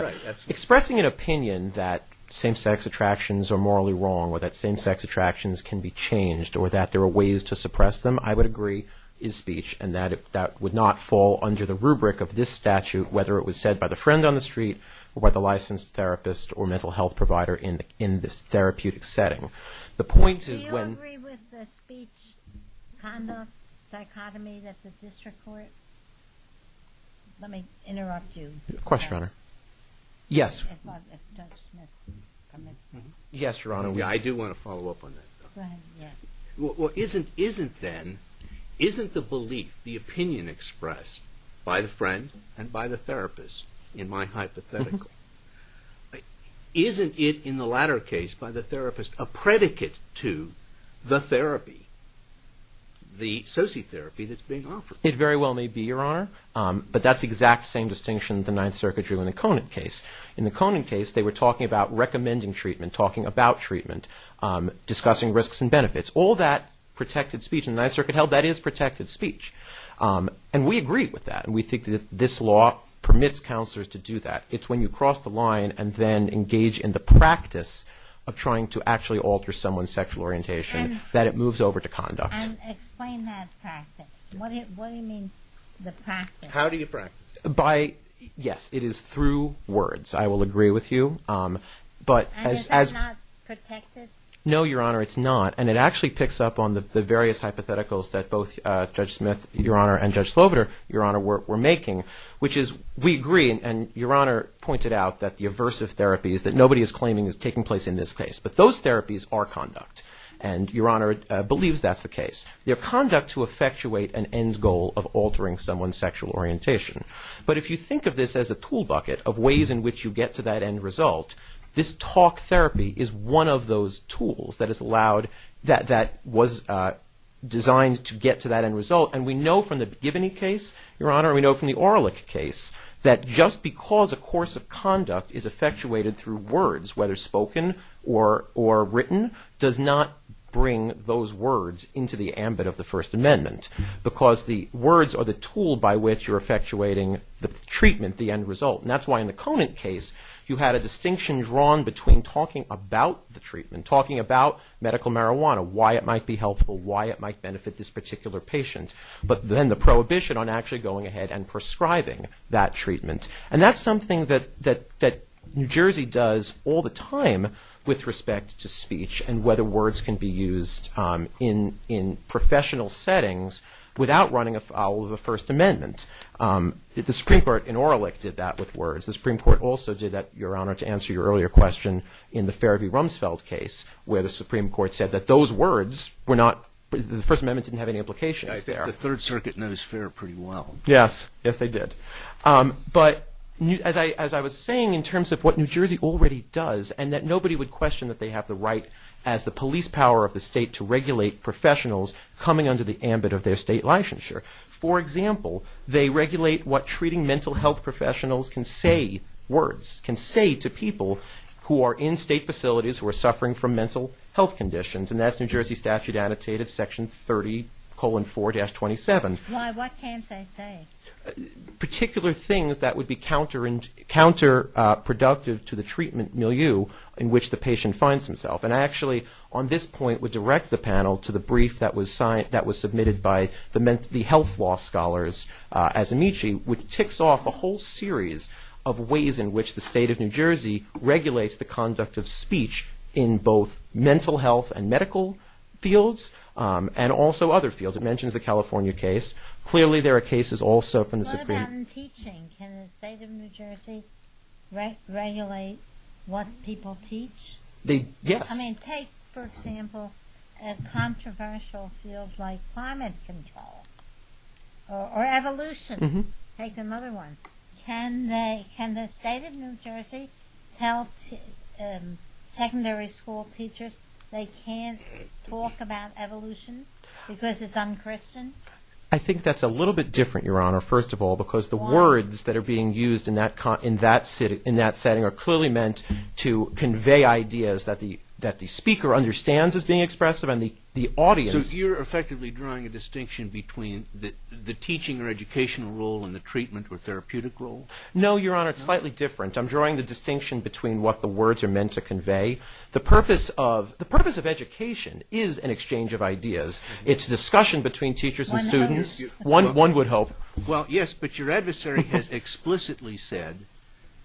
Expressing an opinion that same-sex attractions are morally wrong or that same-sex attractions can be changed or that there are ways to suppress them I would agree is speech and that would not fall under the rubric of this statute, whether it was said by the friend on the street or by the licensed therapist or mental health provider in this therapeutic setting Do you agree with the speech conduct dichotomy that the district court Let me interrupt you Of course, Your Honor Yes Judge Smith Yes, Your Honor I do want to follow up on that Isn't then Isn't the belief, the opinion expressed by the friend and by the therapist in my hypothetical Isn't it, in the latter case, by the therapist a predicate to the therapy the sociotherapy that's being offered It very well may be, Your Honor but that's the exact same distinction that the Ninth Circuit drew in the Conant case In the Conant case, they were talking about recommending treatment, talking about treatment discussing risks and benefits All that protected speech In the Ninth Circuit held, that is protected speech And we agree with that We think that this law permits counselors to do that It's when you cross the line and then engage in the practice of trying to actually alter someone's sexual orientation that it moves over to conduct And explain that practice What do you mean, the practice How do you practice Yes, it is through words I will agree with you And is that not protected No, Your Honor, it's not And it actually picks up on the various hypotheticals that both Judge Smith, Your Honor and Judge Sloviter, Your Honor, were making which is, we agree and Your Honor pointed out that the aversive therapies that nobody is claiming is taking place in this case but those therapies are conduct and Your Honor believes that's the case They're conduct to effectuate an end goal of altering someone's sexual orientation But if you think of this as a tool bucket of ways in which you get to that end result this talk therapy is one of those tools that is allowed that was designed to get to that end result and we know from the Gibbony case Your Honor, we know from the Orlick case that just because a course of conduct is effectuated through words whether spoken or written does not bring those words into the ambit of the First Amendment because the words are the tool by which you're effectuating the treatment the end result and that's why in the Conant case you had a distinction drawn between talking about the treatment talking about medical marijuana why it might be helpful why it might benefit this particular patient but then the prohibition on actually going ahead and prescribing that treatment and that's something that New Jersey does all the time with respect to speech and whether words can be used in professional settings without running afoul of the First Amendment the Supreme Court in Orlick did that with words the Supreme Court also did that Your Honor to answer your earlier question in the Fair v. Rumsfeld case where the Supreme Court said that those words the First Amendment didn't have any implications there The Third Circuit knows Fair pretty well Yes, yes they did but as I was saying in terms of what New Jersey already does and that nobody would question that they have the right as the police power of the state to regulate professionals coming under the ambit of their state licensure for example, they regulate what treating mental health professionals can say words can say to people who are in state facilities who are suffering from mental health conditions and that's New Jersey statute annotated section 30, colon 4, dash 27 Why, what can't they say? Particular things that would be counterproductive to the treatment milieu in which the patient finds himself and I actually on this point would direct the panel to the brief that was submitted by the health law scholars as Amici which ticks off a whole series of ways in which the state of New Jersey regulates the conduct of speech in both mental health and medical fields and also other fields it mentions the California case clearly there are cases also What about in teaching? Can the state of New Jersey regulate what people teach? Yes Take for example a controversial field like climate control or evolution take another one Can the state of New Jersey tell secondary school teachers they can't talk about evolution because it's unchristian? I think that's a little bit different your honor, first of all because the words that are being used in that setting are clearly meant to convey ideas that the speaker understands as being expressive and the audience So you're effectively drawing a distinction between the teaching or educational role and the treatment or therapeutic role? No, your honor, it's slightly different I'm drawing the distinction between what the words are meant to convey The purpose of education is an exchange of ideas It's discussion between teachers and students One would hope Yes, but your adversary has explicitly said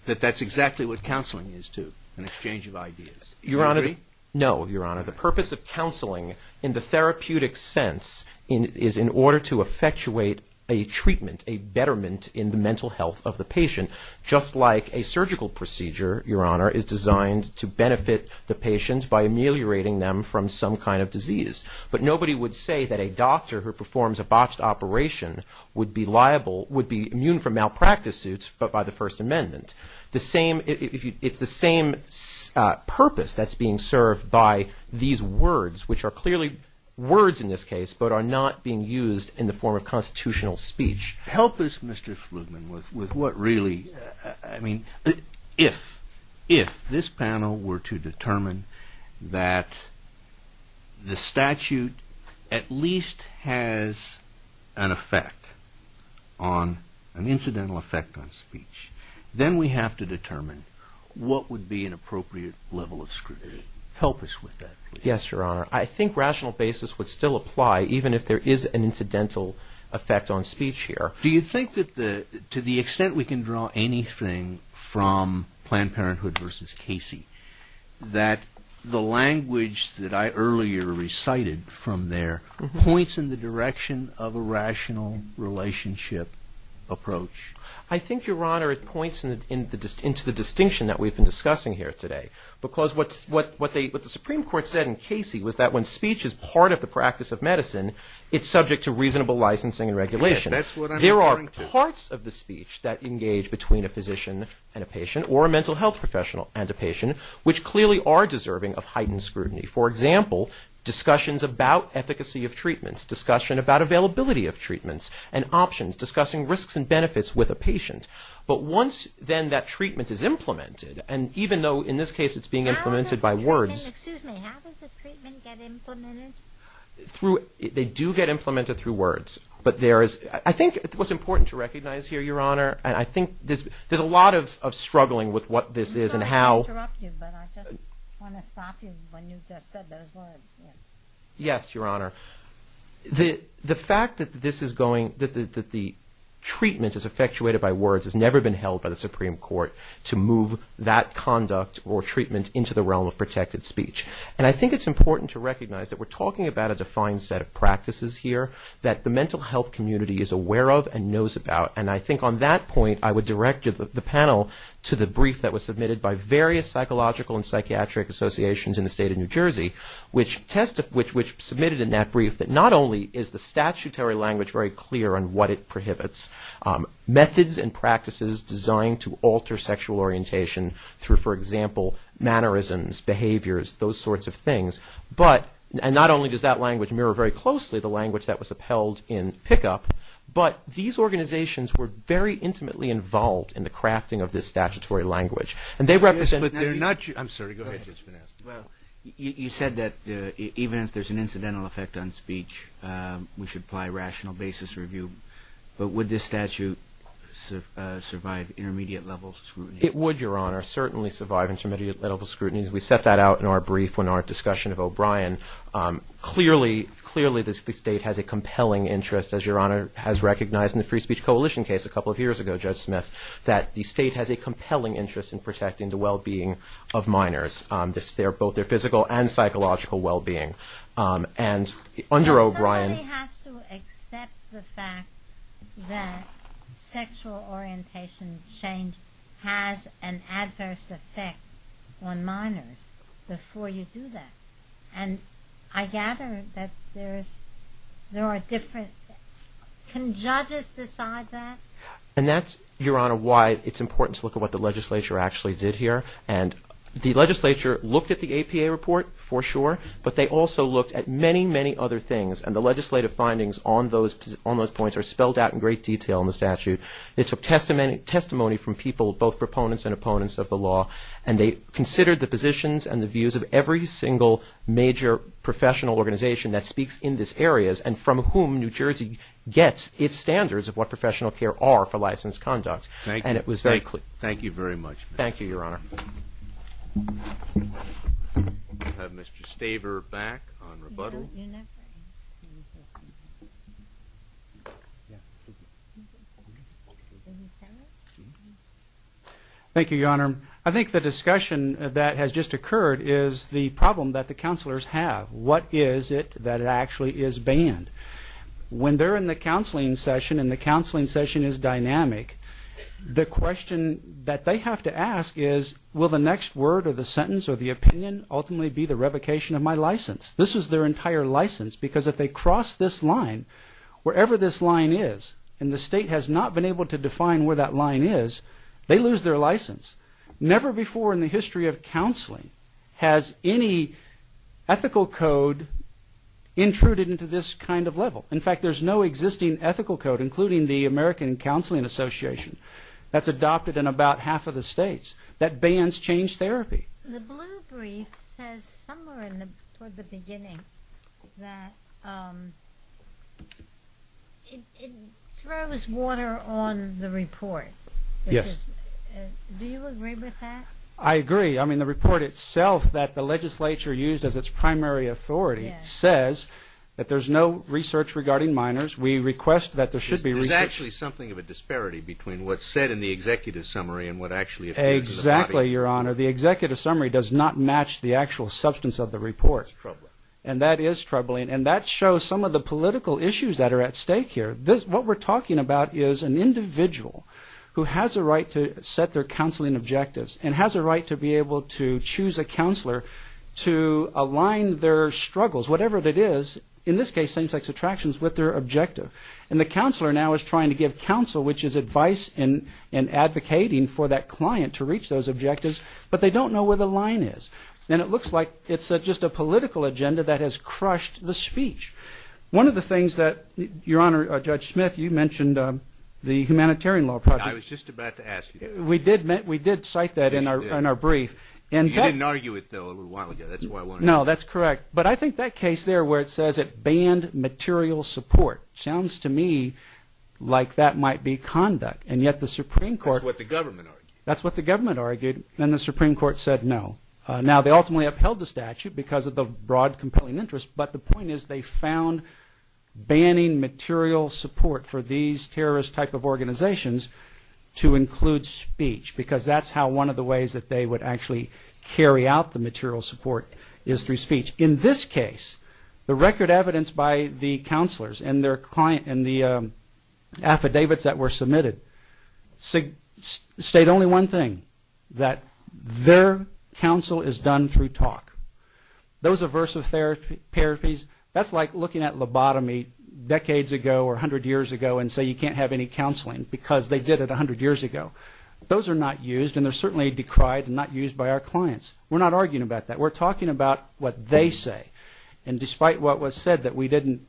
that that's exactly what counseling is too an exchange of ideas No, your honor, the purpose of counseling in the therapeutic sense is in order to effectuate a treatment, a betterment in the mental health of the patient just like a surgical procedure is designed to benefit the patient by ameliorating them from some kind of disease but nobody would say that a doctor who performs a botched operation would be liable would be immune from malpractice suits but by the First Amendment It's the same purpose that's being served by these words, which are clearly words in this case, but are not being used in the form of constitutional speech Help us, Mr. Flugman with what really if if this panel were to determine that the statute at least has an effect on, an incidental effect on speech, then we have to determine what would be an appropriate level of scrutiny Help us with that, please Yes, your honor, I think rational basis would still apply even if there is an incidental effect on speech here Do you think that to the extent we can draw anything from Planned Parenthood versus Casey that the language that I earlier recited from there, points in the direction of a rational relationship approach I think, your honor, it points into the distinction that we've been discussing here today, because what the Supreme Court said in Casey was that when speech is part of the practice of medicine it's subject to reasonable licensing and regulation There are parts of the speech that engage between a physician and a patient, or a mental health professional and a patient, which clearly are deserving of heightened scrutiny. For example discussions about efficacy of treatments, discussion about availability of treatments and options, discussing risks and benefits with a patient but once then that treatment is implemented and even though in this case it's being implemented by words How does the treatment get implemented? They do get implemented through words, but there is I think what's important to recognize here, your honor and I think there's a lot of struggling with what this is and how I'm sorry to interrupt you, but I just want to stop you when you've just said those words Yes, your honor The fact that this is going, that the treatment is effectuated by words has never been held by the Supreme Court to move that conduct or treatment into the realm of protected speech. And I think it's important to recognize that we're talking about a defined set of practices here that the mental health community is aware of and knows about and I think on that point I would direct the panel to the brief that was submitted by various psychological and psychiatric associations in the state of New Jersey which submitted in that brief that not only is the statutory language very clear on what it prohibits to alter sexual orientation through, for example, mannerisms behaviors, those sorts of things but, and not only does that language mirror very closely the language that was upheld in pickup, but these organizations were very intimately involved in the crafting of this statutory language. And they represent I'm sorry, go ahead You said that even if there's an incidental effect on speech we should apply rational basis review but would this statute survive intermediate level scrutiny? It would, your honor certainly survive intermediate level scrutiny we set that out in our brief in our discussion of O'Brien clearly the state has a compelling interest, as your honor has recognized in the Free Speech Coalition case a couple of years ago Judge Smith, that the state has a compelling interest in protecting the well-being of minors, both their physical and psychological well-being and under O'Brien Somebody has to accept the fact that sexual orientation change has an adverse effect on minors before you do that and I gather that there are different can judges decide that? And that's, your honor why it's important to look at what the legislature actually did here and the legislature looked at the APA report for sure, but they also looked at many, many other things and the legislative findings on those points are spelled out in great detail in the statute they took testimony from people both proponents and opponents of the law and they considered the positions and the views of every single major professional organization that speaks in this areas and from whom New Jersey gets its standards of what professional care are for licensed conduct Thank you very much Thank you, your honor We'll have Mr. Staver back on rebuttal Thank you, your honor I think the discussion that has just occurred is the problem that the counselors have What is it that actually is banned? When they're in the counseling session and the counseling session is dynamic the question that they have to ask is will the next word or the sentence or the opinion ultimately be the revocation of my license? This is their entire license because if they cross this line wherever this line is and the state has not been able to define where that line is, they lose their license Never before in the history of counseling has any ethical code intruded into this kind of level. In fact there's no existing ethical code including the American Counseling Association that's adopted in about half of the states that bans change therapy The blue brief says somewhere in the beginning that it throws water on the report Yes Do you agree with that? I agree. I mean the report itself that the legislature used as its primary authority says that there's no research regarding minors. We request that There's actually something of a disparity between what's said in the executive summary and what actually occurs in the body Exactly, your honor. The executive summary does not match the actual substance of the report and that is troubling and that shows some of the political issues that are at stake here. What we're talking about is an individual who has a right to set their counseling objectives and has a right to be able to choose a counselor to align their struggles whatever it is, in this case same sex attractions with their objective and the counselor now is trying to give counsel which is advice and advocating for that client to reach those objectives but they don't know where the line is and it looks like it's just a political agenda that has crushed the speech One of the things that, your honor Judge Smith, you mentioned the humanitarian law project I was just about to ask you that We did cite that in our brief You didn't argue it though a little while ago No, that's correct, but I think that case there where it says it banned material support, sounds to me like that might be conduct and yet the Supreme Court That's what the government argued and the Supreme Court said no Now they ultimately upheld the statute because of the broad compelling interest, but the point is they found banning material support for these terrorist type of organizations to include speech because that's how one of the ways that they would actually carry out the material support is through speech. In this case the record evidence by the counselors and their client and the affidavits that were submitted state only one thing, that their counsel is done through talk Those aversive therapies, that's like looking at lobotomy decades ago or a hundred years ago and say you can't have any counseling because they did it a hundred years ago Those are not used and they're certainly decried and not used by our clients. We're not arguing about that. We're talking about what they say and despite what was said that we didn't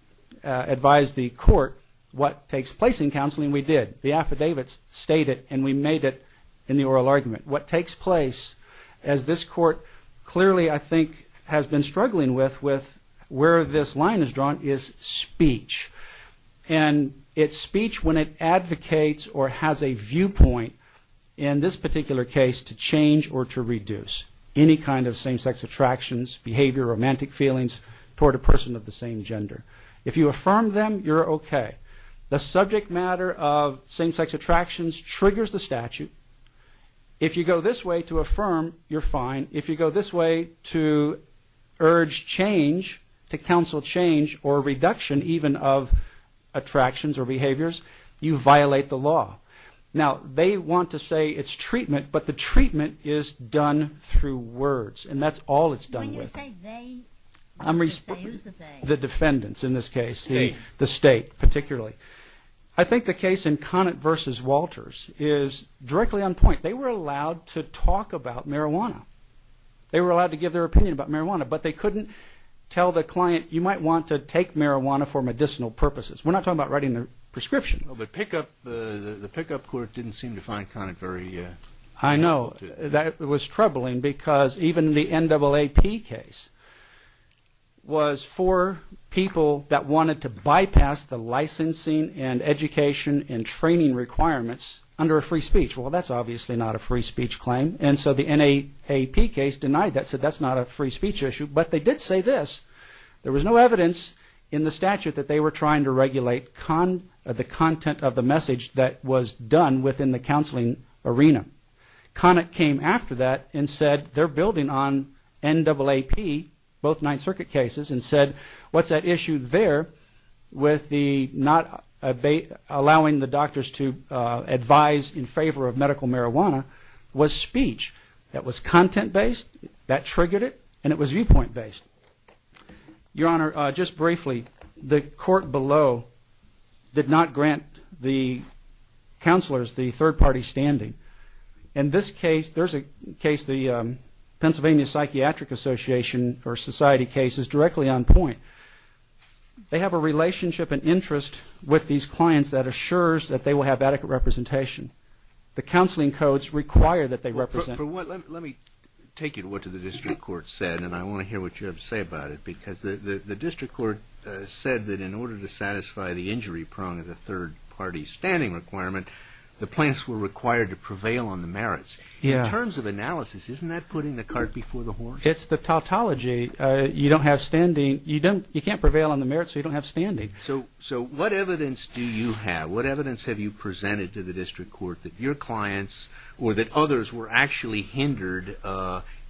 advise the court what takes place in counseling, we did. The affidavits state it and we made it in the oral argument. What takes place as this court clearly I think has been struggling with where this line is drawn is speech and it's speech when it advocates or has a viewpoint in this particular case to change or to reduce any kind of same sex attractions, behavior romantic feelings toward a person of the same gender. If you affirm them, you're okay. The subject matter of same sex attractions triggers the statute If you go this way to affirm, you're fine. If you go this way to urge change, to counsel change or reduction even of attractions or behaviors you violate the law. Now they want to say it's treatment but the treatment is done through words and that's all it's done with When you say they, who's the they? The defendants in this case The state particularly I think the case in Conant vs. Walters is directly on point They were allowed to talk about marijuana They were allowed to give their opinion about marijuana but they couldn't tell the client you might want to take marijuana for medicinal purposes. We're not talking about writing a prescription The pick up court didn't seem to find Conant very... I know. It was troubling because even the NAAP case was for people that wanted to bypass the licensing and education and training requirements under a free speech. Well that's obviously not a free speech claim and so the NAAP case denied that, said that's not a free speech issue but they did say this There was no evidence in the statute that they were trying to regulate the content of the message that was done within the counseling arena. Conant came after that and said they're building on NAAP both 9th Circuit cases and said what's that issue there with the not allowing the doctors to advise in favor of medical marijuana was speech that was content based, that triggered it, and it was viewpoint based Your Honor, just briefly the court below did not grant the counselors the third party standing. In this case, there's a case the Pennsylvania Psychiatric Association or Society case is directly on point They have a relationship and interest with these clients that assures that they will have adequate representation The counseling codes require that they represent Let me take you to what the district court said and I want to hear what you have to say about it because the district court said that in order to satisfy the injury prong of the third party standing requirement, the plaintiffs were required to prevail on the merits In terms of analysis, isn't that putting the cart before the horse? It's the tautology You don't have standing You can't prevail on the merits so you don't have standing So what evidence do you have? What evidence have you presented to the district court that your clients or that others were actually hindered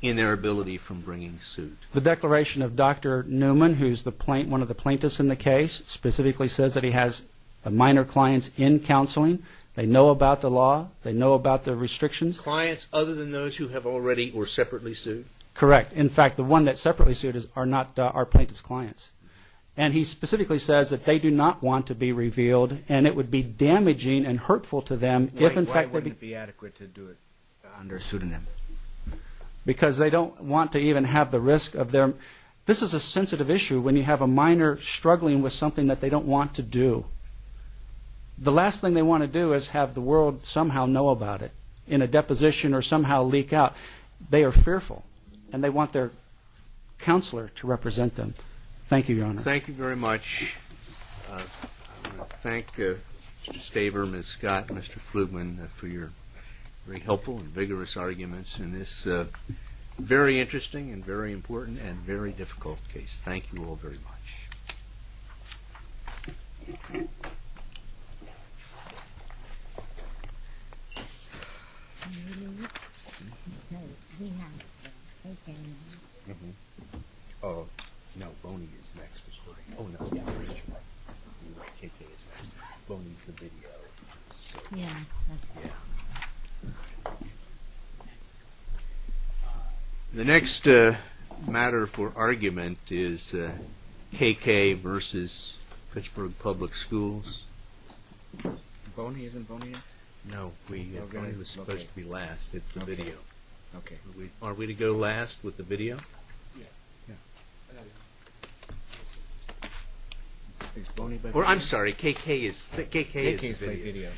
in their ability from bringing suit? The declaration of Dr. Newman who's one of the plaintiffs in the case, specifically says that he has minor clients in counseling They know about the law They know about the restrictions Clients other than those who have already or separately sued? Correct. In fact, the one that separately sued are not our plaintiff's clients And he specifically says that they do not want to be revealed and it would be damaging and hurtful to them Why wouldn't it be adequate to do it under a pseudonym? Because they don't want to even have the risk of their... This is a sensitive issue when you have a minor struggling with something that they don't want to do The last thing they want to do is have the world somehow know about it in a deposition or somehow leak out They are fearful and they want their counselor to represent them Thank you, Your Honor Thank you very much I want to thank Mr. Staver Ms. Scott and Mr. Flugman for your very helpful and vigorous arguments in this very interesting and very important and very difficult case Thank you all very much Oh, we have KK now Mm-hmm Oh, no, Boney is next Oh, no, KK KK is next, Boney is the video Yeah, that's right Yeah The next matter for argument is KK versus Pittsburgh Public Schools Boney isn't Boney next? No, Boney was supposed to be It's the video Are we to go last with the video? Yeah I'm sorry, KK KK is video